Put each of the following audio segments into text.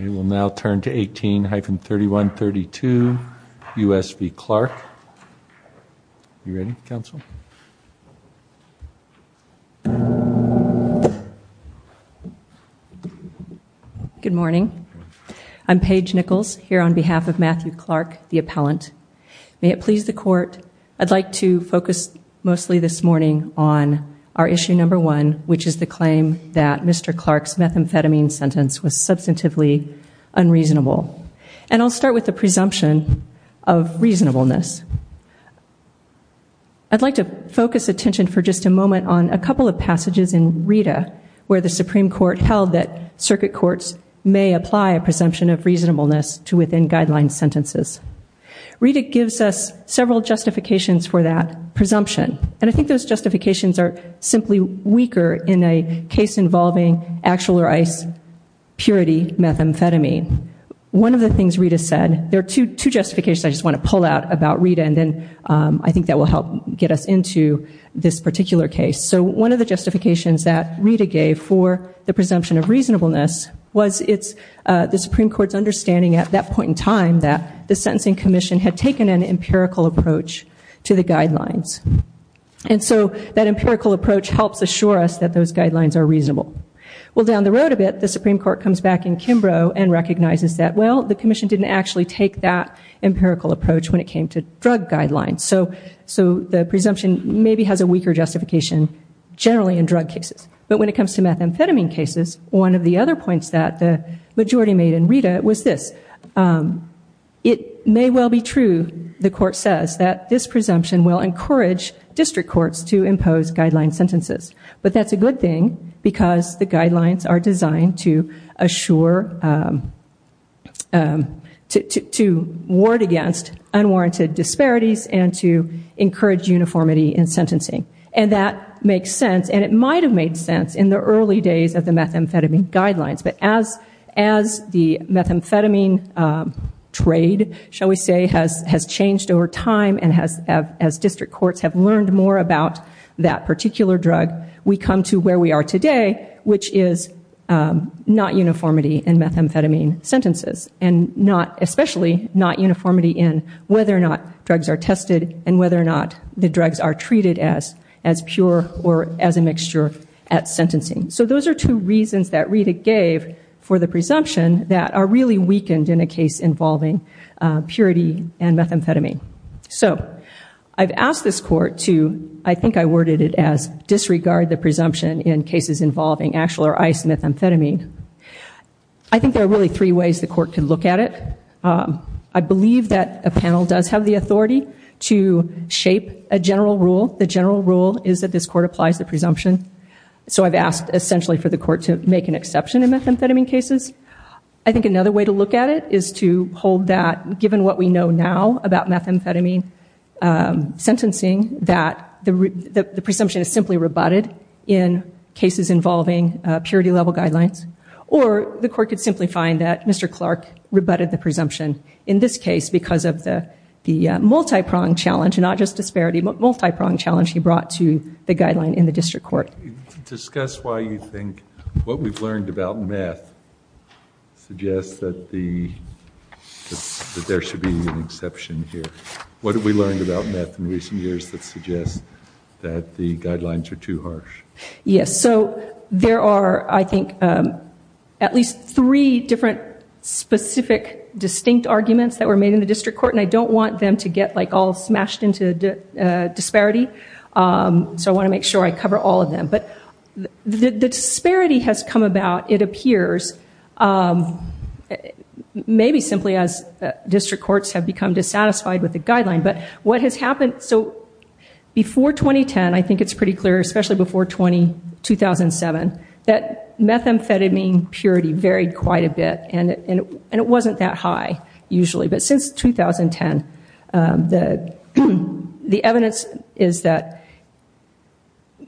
Good morning. I'm Paige Nichols, here on behalf of Matthew Clark, the appellant. May it please the court, I'd like to focus mostly this morning on our issue number one, which is the claim that Mr. Clark's methamphetamine sentence was substantively unreasonable. And I'll start with the presumption of reasonableness. I'd like to focus attention for just a moment on a couple of passages in Rita where the Supreme Court held that circuit courts may apply a presumption of reasonableness to within guideline sentences. Rita gives us several justifications for that case involving actual or ice purity methamphetamine. One of the things Rita said, there are two justifications I just want to pull out about Rita and then I think that will help get us into this particular case. So one of the justifications that Rita gave for the presumption of reasonableness was it's the Supreme Court's understanding at that point in time that the Sentencing Commission had taken an empirical approach to the guidelines. And so that empirical approach helps assure us that those guidelines are reasonable. Well down the road a bit, the Supreme Court comes back in Kimbrough and recognizes that well, the Commission didn't actually take that empirical approach when it came to drug guidelines. So the presumption maybe has a weaker justification generally in drug cases. But when it comes to methamphetamine cases, one of the other points that the majority made in Rita was this. It may well be true, the court says, that this presumption will encourage district courts to impose guideline sentences. But that's a good thing because the guidelines are designed to assure, to ward against unwarranted disparities and to encourage uniformity in sentencing. And that makes sense and it might have made sense in the early days of the methamphetamine guidelines. But as the methamphetamine trade, shall we say, has changed over time and as district courts have learned more about that particular drug, we come to where we are today, which is not uniformity in methamphetamine sentences. And not, especially not uniformity in whether or not drugs are tested and whether or not the drugs are treated as pure or as a mixture at sentencing. So those are two reasons that Rita gave for the presumption that are really weakened in a case involving purity and methamphetamine. So I've asked this court to, I think I worded it as, disregard the presumption in cases involving actual or ice methamphetamine. I think there are really three ways the court can look at it. I believe that a panel does have the authority to shape a general rule. The general rule is that this court applies the presumption. So I've asked essentially for the court to make an exception in methamphetamine cases. I think another way to look at it is to hold that, given what we know now about methamphetamine sentencing, that the presumption is simply rebutted in cases involving purity level guidelines. Or the court could simply find that Mr. Clark rebutted the presumption in this case because of the multi-prong challenge, not just disparity, but multi-prong challenge he brought to the guideline in the district court. Discuss why you think what we've learned about meth suggests that there should be an exception here. What have we learned about meth in recent years that suggests that the guidelines are too harsh? Yes, so there are, I think, at least three different specific distinct arguments that were made in the district court. And I don't want them to get all smashed into disparity. So I want to make sure I cover all of them. But the disparity has come about, it appears, maybe simply as district courts have become dissatisfied with the guideline. But what has happened, so before 2010, I think it's pretty clear, especially before 2007, that methamphetamine purity varied quite a bit. And it wasn't that high, usually. But since 2010, the evidence is that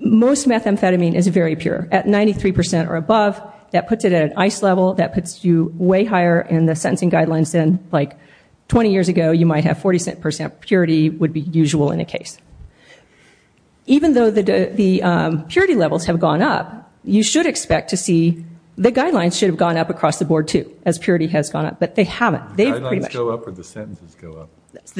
most methamphetamine is very pure. At 93% or above, that puts it at an ice level, that puts you way higher in the sentencing guidelines than like 20 years ago, you might have 47% purity would be usual in a case. Even though the purity levels have gone up, you should expect to see the guidelines should have gone up across the board, too, as purity has gone up. But they haven't. Guidelines go up or the sentences go up?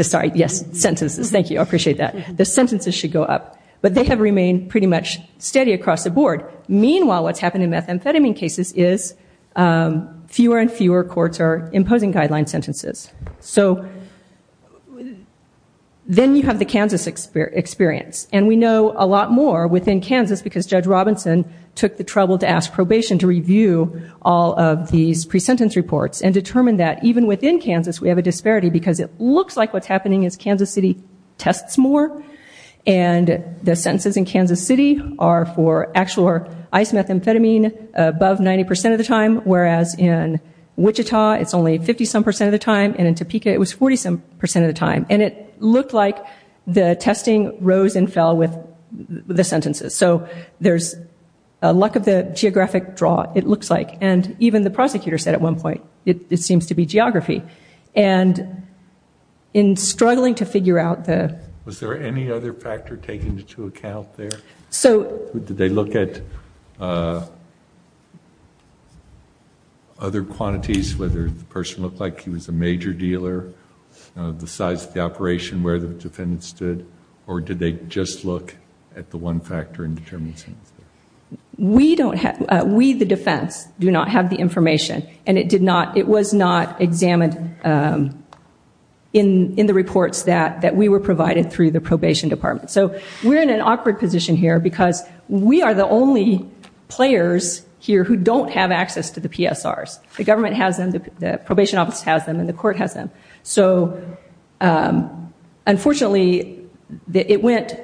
Sorry, yes, sentences. Thank you. I appreciate that. The sentences should go up. But they have remained pretty much steady across the board. Meanwhile, what's happened in methamphetamine cases is fewer and fewer courts are imposing guideline sentences. So then you have the Kansas experience. And we know a lot more within Kansas because Judge Robinson took the trouble to ask probation to review all of these pre-sentence reports and determine that even within Kansas, we have a disparity because it looks like what's happening is Kansas City tests more. And the sentences in Kansas City are for actual or ice methamphetamine above 90% of the time, whereas in Wichita, it's only 50 some percent of the time and in Topeka, it was 40 some percent of the time. And it looked like the testing rose and fell with the sentences. So there's a lack of the point. It seems to be geography. And in struggling to figure out the... Was there any other factor taken into account there? Did they look at other quantities, whether the person looked like he was a major dealer, the size of the operation, where the defendants stood, or did they just look at the one factor and determine sentences? We, the defense, do not have the information. And it was not examined in the reports that we were provided through the probation department. So we're in an awkward position here because we are the only players here who don't have access to the PSRs. The government has them, the probation office has them, and the court has them. So unfortunately, it went...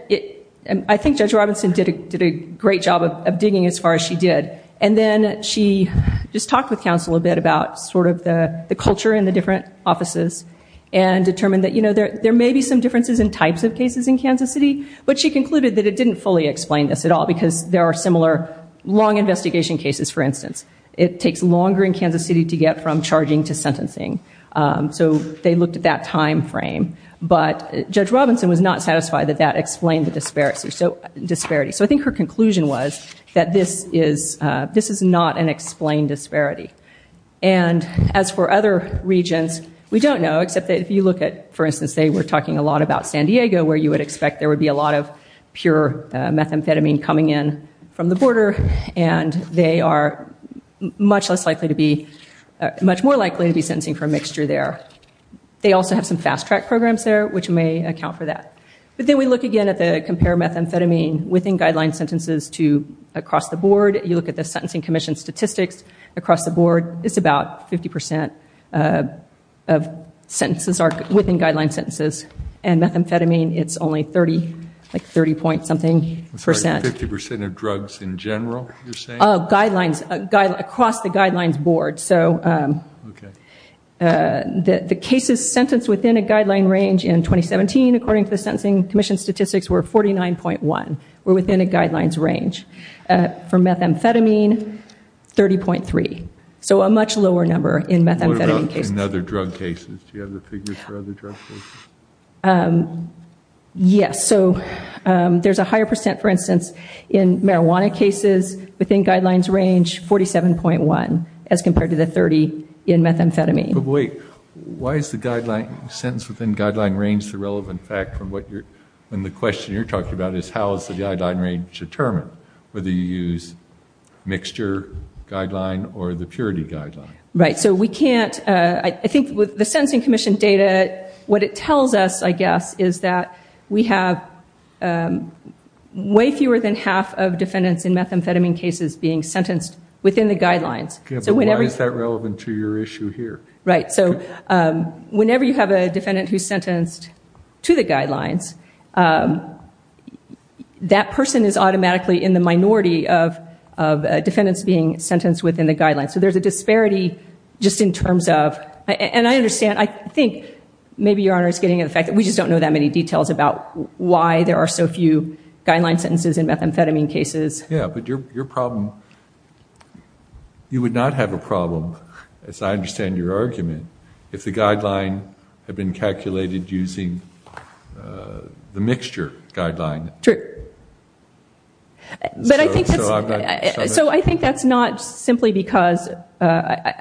I think Judge Robinson did a great job of digging as far as she did. And then she just talked with counsel a bit about sort of the culture in the different offices and determined that there may be some differences in types of cases in Kansas City, but she concluded that it didn't fully explain this at all because there are similar long investigation cases, for instance. It takes longer in Kansas City to get from charging to sentencing. So they was not satisfied that that explained the disparities. So I think her conclusion was that this is not an explained disparity. And as for other regions, we don't know, except that if you look at, for instance, they were talking a lot about San Diego, where you would expect there would be a lot of pure methamphetamine coming in from the border, and they are much less likely to be... much more likely to be sentencing for a mixture there. They also have some fast track programs there, which may account for that. But then we look again at the compare methamphetamine within guideline sentences to across the board. You look at the Sentencing Commission statistics. Across the board, it's about 50% of sentences are within guideline sentences. And methamphetamine, it's only 30, like 30 point something percent. It's like 50% of drugs in general, you're saying? Guidelines, across the guidelines board. So the cases sentenced within a guideline range in 2017, according to the Sentencing Commission statistics, were 49.1, were within a guidelines range. For methamphetamine, 30.3. So a much lower number in methamphetamine cases. What about in other drug cases? Do you have the figures for other drug cases? Yes. So there's a higher percent, for instance, in marijuana cases within guidelines range, 47.1 as compared to the 30 in methamphetamine. But wait, why is the guideline sentence within guideline range the relevant fact from what you're... when the question you're talking about is how is the guideline range determined? Whether you use mixture guideline or the purity guideline? Right. So we can't... I think with the Sentencing Commission data, what it tells us, I guess, is that we have way fewer than half of defendants in methamphetamine cases being sentenced within the guidelines. But why is that relevant to your issue here? Right. So whenever you have a defendant who's sentenced to the guidelines, that person is automatically in the minority of defendants being sentenced within the guidelines. So there's a disparity just in terms of... and I understand, I think, maybe Your Honor is getting at the fact that we just don't know that many details about why there are so few guideline sentences in methamphetamine cases. Yeah. But your problem... you would not have a problem, as I understand your argument, if the guideline had been calculated using the mixture guideline. True. So I've got some... I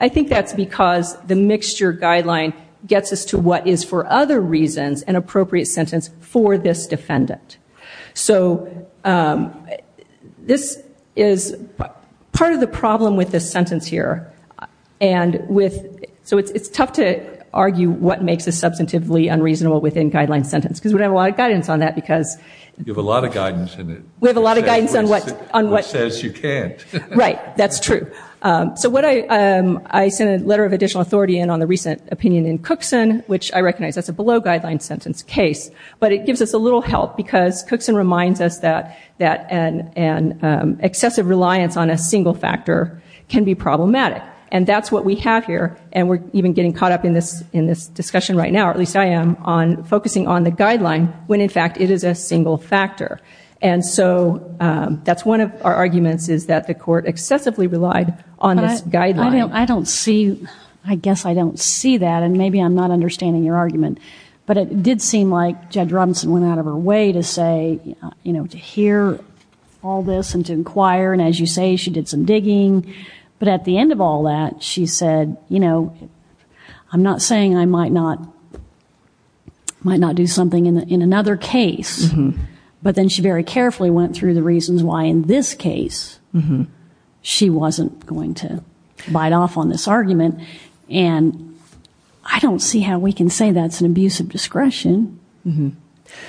think that's because the mixture guideline gets us to what is, for other reasons, an appropriate sentence for this defendant. So this is part of the problem with this sentence here. And with... so it's tough to argue what makes a substantively unreasonable within-guideline sentence, because we don't have a lot of guidance on that, because... You have a lot of guidance in it. We have a lot of guidance on what... Which says you can't. Right. That's true. So what I... I sent a letter of additional authority in on the recent opinion in Cookson, which I recognize that's a below-guideline sentence case, but it gives us a little help, because Cookson reminds us that an excessive reliance on a single factor can be problematic. And that's what we have here, and we're even getting caught up in this discussion right now, or at least I am, on focusing on the guideline, when in And so that's one of our arguments, is that the court excessively relied on this guideline. I don't see... I guess I don't see that, and maybe I'm not understanding your argument. But it did seem like Judge Robinson went out of her way to say, you know, to hear all this and to inquire, and as you say, she did some digging. But at the end of all that, she said, you know, I'm not saying I might not do something in another case, but then she very carefully went through the reasons why in this case she wasn't going to bite off on this argument. And I don't see how we can say that's an abuse of discretion.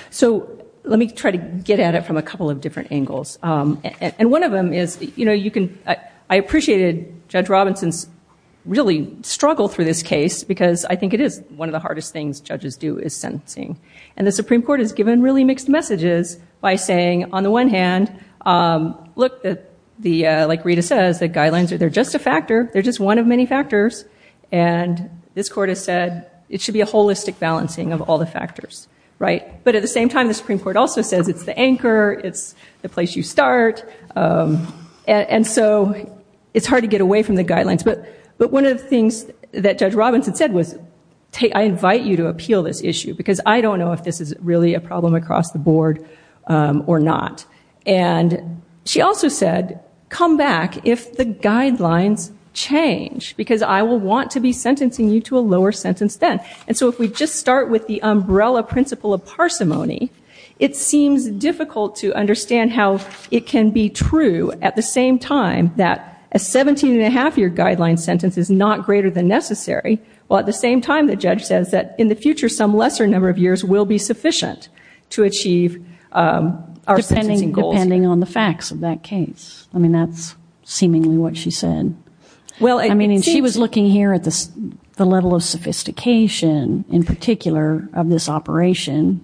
So let me try to get at it from a couple of different angles. And one of them is, you can... I appreciated Judge Robinson's really struggle through this case, because I think it is one of the hardest things judges do, is sentencing. And the Supreme Court has given really mixed messages by saying, on the one hand, look, like Rita says, the guidelines, they're just a factor, they're just one of many factors, and this court has said it should be a holistic balancing of all the factors, right? But at the same time, the Supreme Court also says it's the anchor, it's the place you start, and so it's hard to get away from the guidelines. But one of the things that Judge Robinson said was, I invite you to appeal this issue, because I don't know if this is really a problem across the board or not. And she also said, come back if the guidelines change, because I will want to be sentencing you to a lower sentence then. And so if we just start with the umbrella principle of it seems difficult to understand how it can be true at the same time that a 17-and-a-half year guideline sentence is not greater than necessary, while at the same time the judge says that in the future some lesser number of years will be sufficient to achieve our sentencing goals. Depending on the facts of that case. I mean, that's seemingly what she said. I mean, she was looking here at the level of sophistication, in particular, of this operation,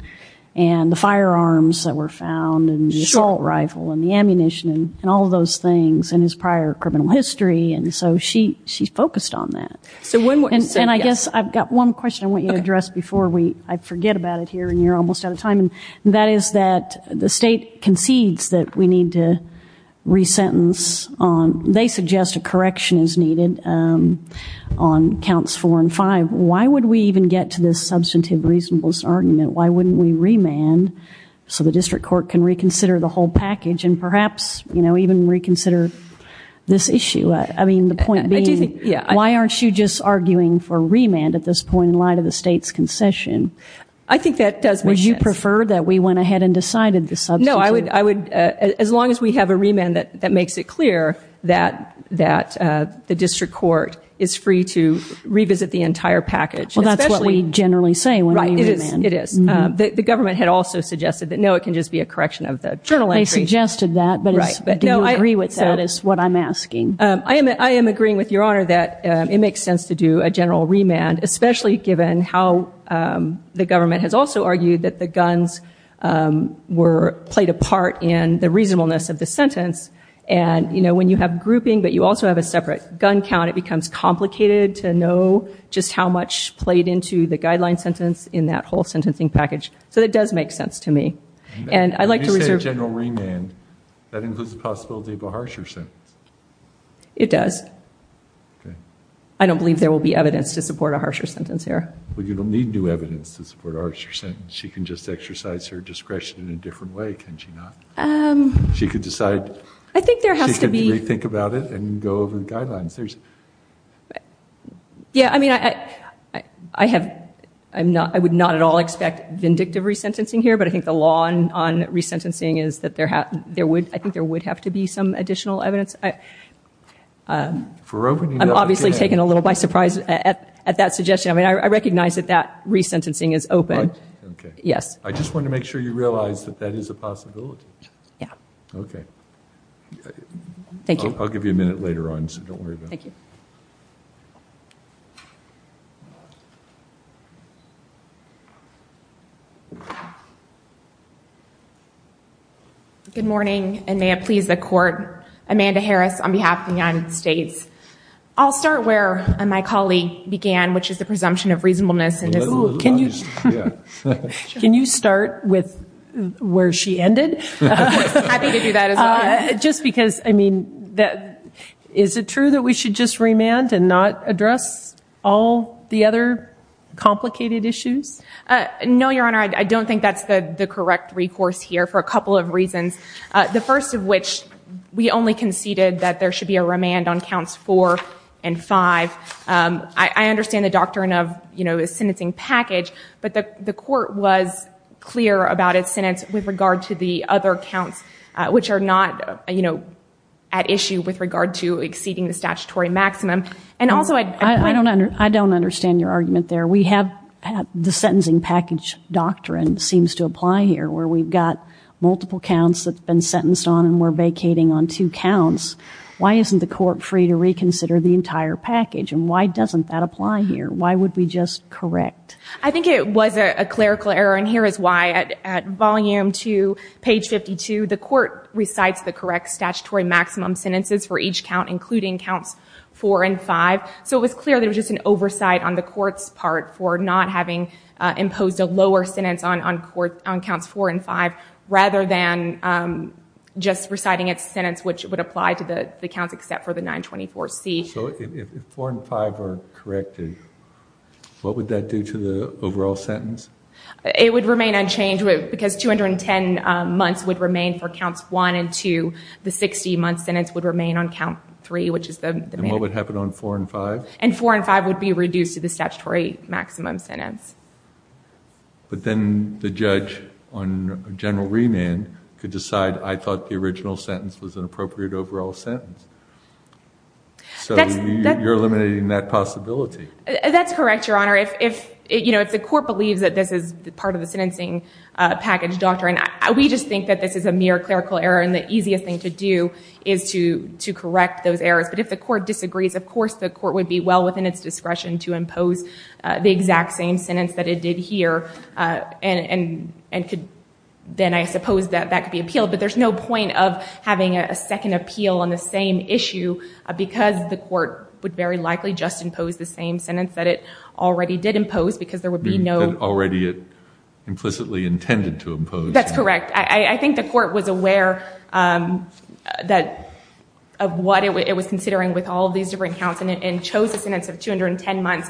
and the firearms that were found, and the assault rifle, and the ammunition, and all of those things, and his prior criminal history, and so she focused on that. And I guess I've got one question I want you to address before I forget about it here and you're almost out of time, and that is that the State concedes that we need to resentence on, they suggest a correction is needed on counts four and five. Why would we even get to this substantive reasonableness argument? Why wouldn't we remand so the District Court can reconsider the whole package and perhaps, you know, even reconsider this issue? I mean, the point being, why aren't you just arguing for remand at this point in light of the State's concession? I think that does make sense. Would you prefer that we went ahead and decided the substantive? No, I would, as long as we have a remand that makes it clear that the District Court is free to revisit the entire package. Well, that's what we generally say when we remand. Right, it is. The government had also suggested that, no, it can just be a correction of the journal entry. They suggested that, but do you agree with that is what I'm asking. I am agreeing with Your Honor that it makes sense to do a general remand, especially given how the government has also argued that the guns were played a part in the reasonableness of the sentence, and, you know, when you have grouping but you also have a separate gun count, it becomes complicated to know just how much played into the guideline sentence in that whole sentencing package. So it does make sense to me. When you say a general remand, that includes the possibility of a harsher sentence. It does. Okay. I don't believe there will be evidence to support a harsher sentence here. Well, you don't need new evidence to support a harsher sentence. She can just exercise her discretion in a different way, can she not? She could decide. I think there has to be. She can re-think about it and go over the guidelines. Yeah, I mean, I have, I would not at all expect vindictive resentencing here, but I think the law on resentencing is that there would, I think there would have to be some additional evidence. I'm obviously taken a little by surprise at that suggestion. I mean, I recognize that that resentencing is open. Okay. Yes. I just want to make sure you realize that that is a possibility. Yeah. Okay. Thank you. I'll give you a minute later on, so don't worry about it. Thank you. Good morning, and may it please the court. Amanda Harris on behalf of the United States. I'll start where my colleague began, which is the presumption of reasonableness. Can you start with where she ended? Happy to do that as well. Just because, I mean, is it true that we should just remand and not address all the other complicated issues? No, Your Honor, I don't think that's the correct recourse here for a couple of reasons. The first of which, we only conceded that there should be a remand on counts four and five. I understand the doctrine of a sentencing package, but the court was clear about its other counts, which are not at issue with regard to exceeding the statutory maximum. I don't understand your argument there. The sentencing package doctrine seems to apply here, where we've got multiple counts that have been sentenced on and we're vacating on two counts. Why isn't the court free to reconsider the entire package, and why doesn't that apply here? Why would we just correct? I think it was a clerical error, and here is why. At volume two, page 52, the court recites the correct statutory maximum sentences for each count, including counts four and five. So it was clear there was just an oversight on the court's part for not having imposed a lower sentence on counts four and five, rather than just reciting its sentence, which would apply to the counts except for the 924C. So if four and five are corrected, what would that do to the overall sentence? It would remain unchanged, because 210 months would remain for counts one and two. The 60-month sentence would remain on count three, which is the mandate. And what would happen on four and five? And four and five would be reduced to the statutory maximum sentence. But then the judge on general remand could decide, I thought the original sentence was an appropriate overall sentence. So you're eliminating that possibility. That's correct, Your Honor. If the court believes that this is part of the sentencing package doctrine, we just think that this is a mere clerical error. And the easiest thing to do is to correct those errors. But if the court disagrees, of course the court would be well within its discretion to impose the exact same sentence that it did here. And then I suppose that could be appealed. But there's no point of having a second appeal on the same issue, because the court would very likely just impose the same sentence that it already did impose, because there would be no... Already it implicitly intended to impose. That's correct. I think the court was aware of what it was considering with all these different counts and chose a sentence of 210 months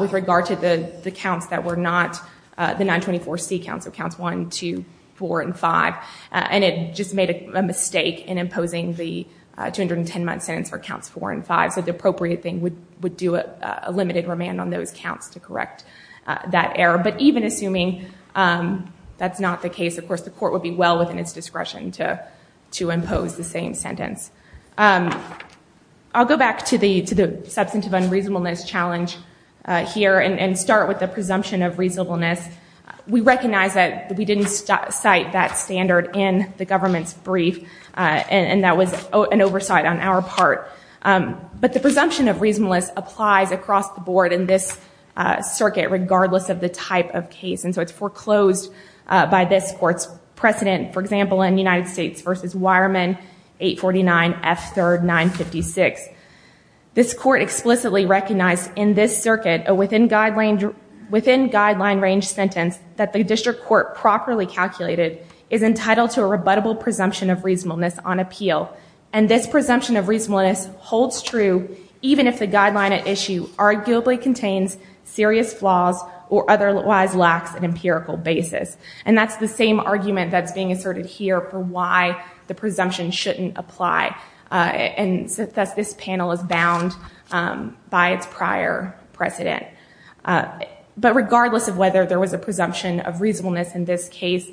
with regard to the counts that were not the 924C counts, so counts 1, 2, 4, and 5. And it just made a mistake in imposing the 210-month sentence for counts 4 and 5. So the appropriate thing would do a limited remand on those counts to correct that error. But even assuming that's not the case, of course the court would be well within its discretion to impose the same sentence. I'll go back to the substantive unreasonableness challenge here and start with the presumption of reasonableness. We recognize that we didn't cite that standard in the government's brief, and that was an oversight on our part. But the presumption of reasonableness applies across the board in this circuit, regardless of the type of case. And so it's foreclosed by this court's precedent. For example, in United States v. Wireman, 849 F. 3rd 956. This court explicitly recognized in this circuit a within guideline range sentence that the district court properly calculated is entitled to a rebuttable presumption of reasonableness on appeal. And this presumption of reasonableness holds true even if the guideline at issue arguably contains serious flaws or otherwise lacks an empirical basis. And that's the same argument that's being asserted here for why the presumption shouldn't apply. And thus this panel is bound by its prior precedent. But regardless of whether there was a presumption of reasonableness in this case,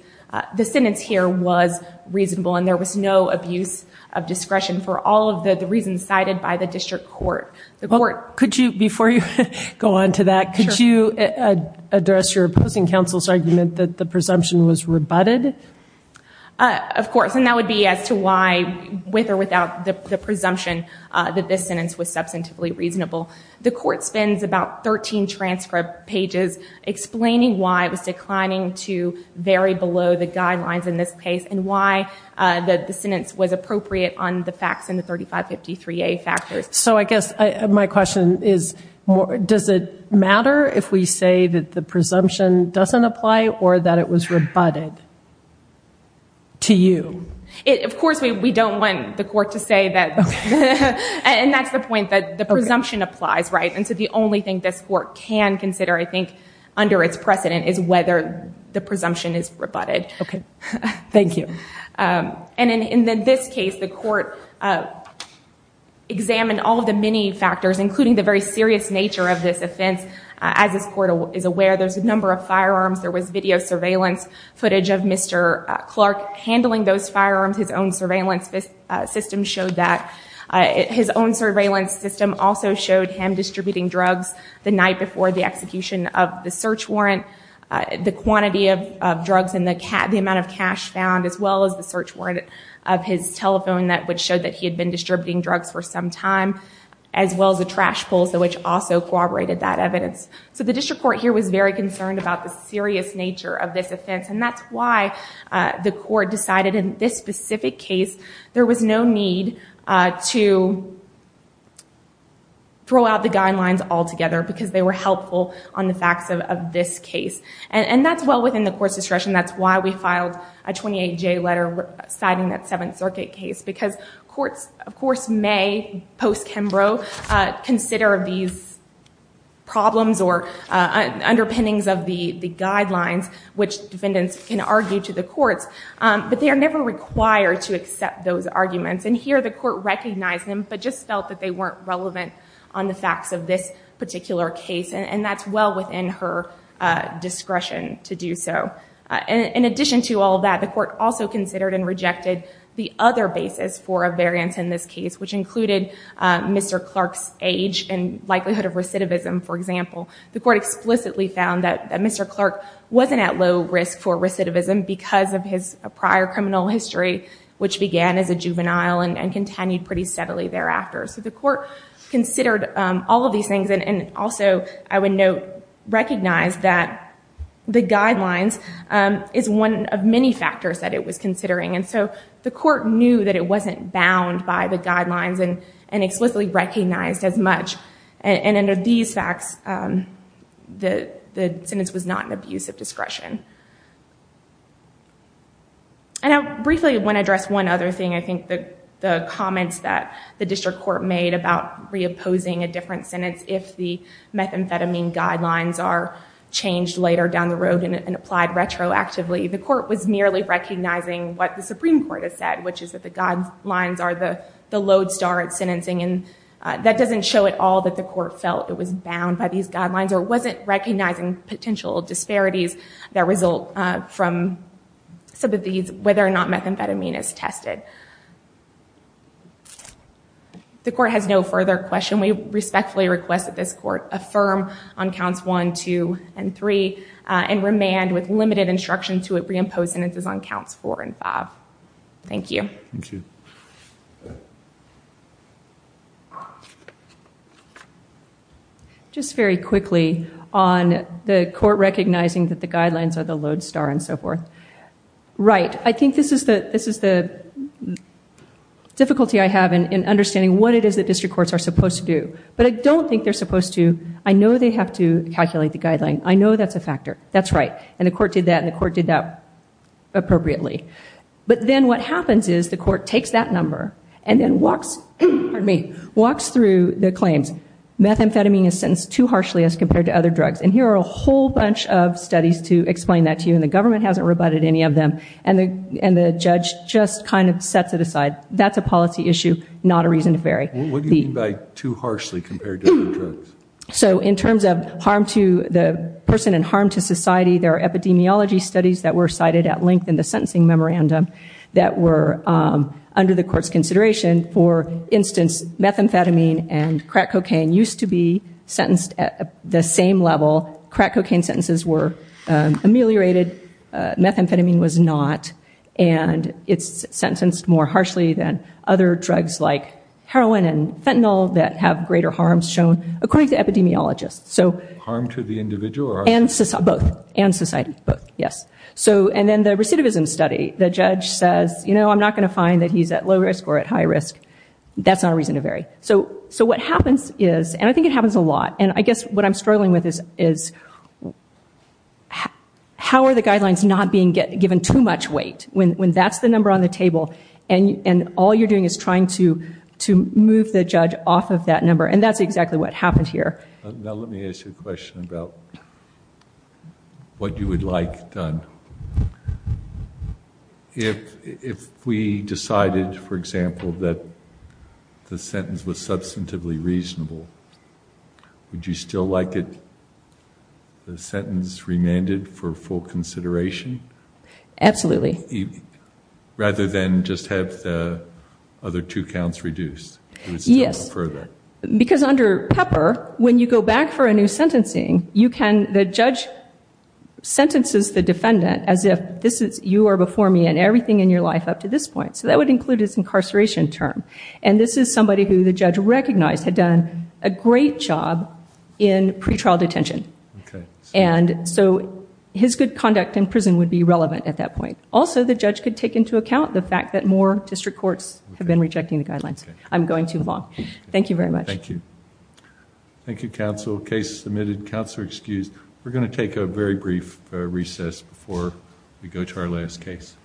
the sentence here was reasonable, and there was no abuse of discretion for all of the reasons cited by the district court. Before you go on to that, could you address your opposing counsel's argument that the presumption was rebutted? Of course, and that would be as to why, with or without the presumption, that this sentence was substantively reasonable. The court spends about 13 transcript pages explaining why it was declining to vary below the guidelines in this case and why the sentence was appropriate on the facts in the 3553A factors. So I guess my question is, does it matter if we say that the presumption doesn't apply or that it was rebutted to you? Of course, we don't want the court to say that. And that's the point, that the presumption applies, right? And so the only thing this court can consider, I think, under its precedent, is whether the presumption is rebutted. Okay, thank you. And in this case, the court examined all of the many factors, including the very serious nature of this offense. As this court is aware, there's a number of firearms. There was video surveillance footage of Mr. Clark handling those firearms. His own surveillance system showed that. His own surveillance system also showed him distributing drugs the night before the execution of the search warrant, the quantity of drugs and the amount of cash found, as well as the search warrant of his telephone which showed that he had been distributing drugs for some time, as well as the trash pulls which also corroborated that evidence. So the district court here was very concerned about the serious nature of this offense. And that's why the court decided in this specific case there was no need to throw out the guidelines altogether because they were helpful on the facts of this case. And that's well within the court's discretion. That's why we filed a 28-J letter citing that Seventh Circuit case because courts, of course, may, post-Kimbrough, consider these problems or underpinnings of the guidelines which defendants can argue to the courts. But they are never required to accept those arguments. And here the court recognized them but just felt that they weren't relevant on the facts of this particular case. And that's well within her discretion to do so. In addition to all that, the court also considered and rejected the other basis for a variance in this case which included Mr. Clark's age and likelihood of recidivism, for example. The court explicitly found that Mr. Clark wasn't at low risk for recidivism because of his prior criminal history which began as a juvenile and continued pretty steadily thereafter. So the court considered all of these things and also, I would note, recognize that the guidelines is one of many factors that it was considering. And so the court knew that it wasn't bound by the guidelines and explicitly recognized as much. And under these facts, the sentence was not an abuse of discretion. And I briefly want to address one other thing. I think the comments that the district court made about re-opposing a different sentence if the methamphetamine guidelines are changed later down the road and applied retroactively, the court was merely recognizing what the Supreme Court has said which is that the guidelines are the lodestar at sentencing. And that doesn't show at all that the court felt it was bound by these guidelines or wasn't recognizing potential disparities that result from some of these, whether or not methamphetamine is tested. The court has no further question. We respectfully request that this court affirm on counts 1, 2, and 3 and remand with limited instruction to it re-impose sentences on counts 4 and 5. Thank you. Thank you. Just very quickly on the court recognizing that the guidelines are the lodestar and so forth. Right. I think this is the difficulty I have in understanding what it is that district courts are supposed to do. But I don't think they're supposed to. I know they have to calculate the guideline. I know that's a factor. That's right. And the court did that and the court did that appropriately. But then what happens is the court takes that number and then walks through the claims. Methamphetamine is sentenced too harshly as compared to other drugs. And here are a whole bunch of studies to explain that to you and the government hasn't rebutted any of them. And the judge just kind of sets it aside. That's a policy issue, not a reason to vary. What do you mean by too harshly compared to other drugs? So in terms of harm to the person and harm to society, there are epidemiology studies that were cited at length in the sentencing memorandum that were under the court's consideration. For instance, methamphetamine and crack cocaine used to be sentenced at the same level. Crack cocaine sentences were ameliorated. Methamphetamine was not. And it's sentenced more harshly than other drugs like heroin and fentanyl that have greater harms shown according to epidemiologists. Harm to the individual? Both, and society, both, yes. And then the recidivism study, the judge says, you know, I'm not going to find that he's at low risk or at high risk. That's not a reason to vary. So what happens is, and I think it happens a lot, and I guess what I'm struggling with is, how are the guidelines not being given too much weight when that's the number on the table and all you're doing is trying to move the judge off of that number? And that's exactly what happened here. Now let me ask you a question about what you would like done. If we decided, for example, that the sentence was substantively reasonable, would you still like the sentence remanded for full consideration? Absolutely. Rather than just have the other two counts reduced? Yes, because under Pepper, when you go back for a new sentencing, the judge sentences the defendant as if you are before me in everything in your life up to this point. So that would include his incarceration term. And this is somebody who the judge recognized had done a great job in pretrial detention. And so his good conduct in prison would be relevant at that point. Also, the judge could take into account the fact that more district courts have been rejecting the guidelines. I'm going too long. Thank you very much. Thank you. Thank you, counsel. Case submitted. Counselor excused. We're going to take a very brief recess before we go to our last case.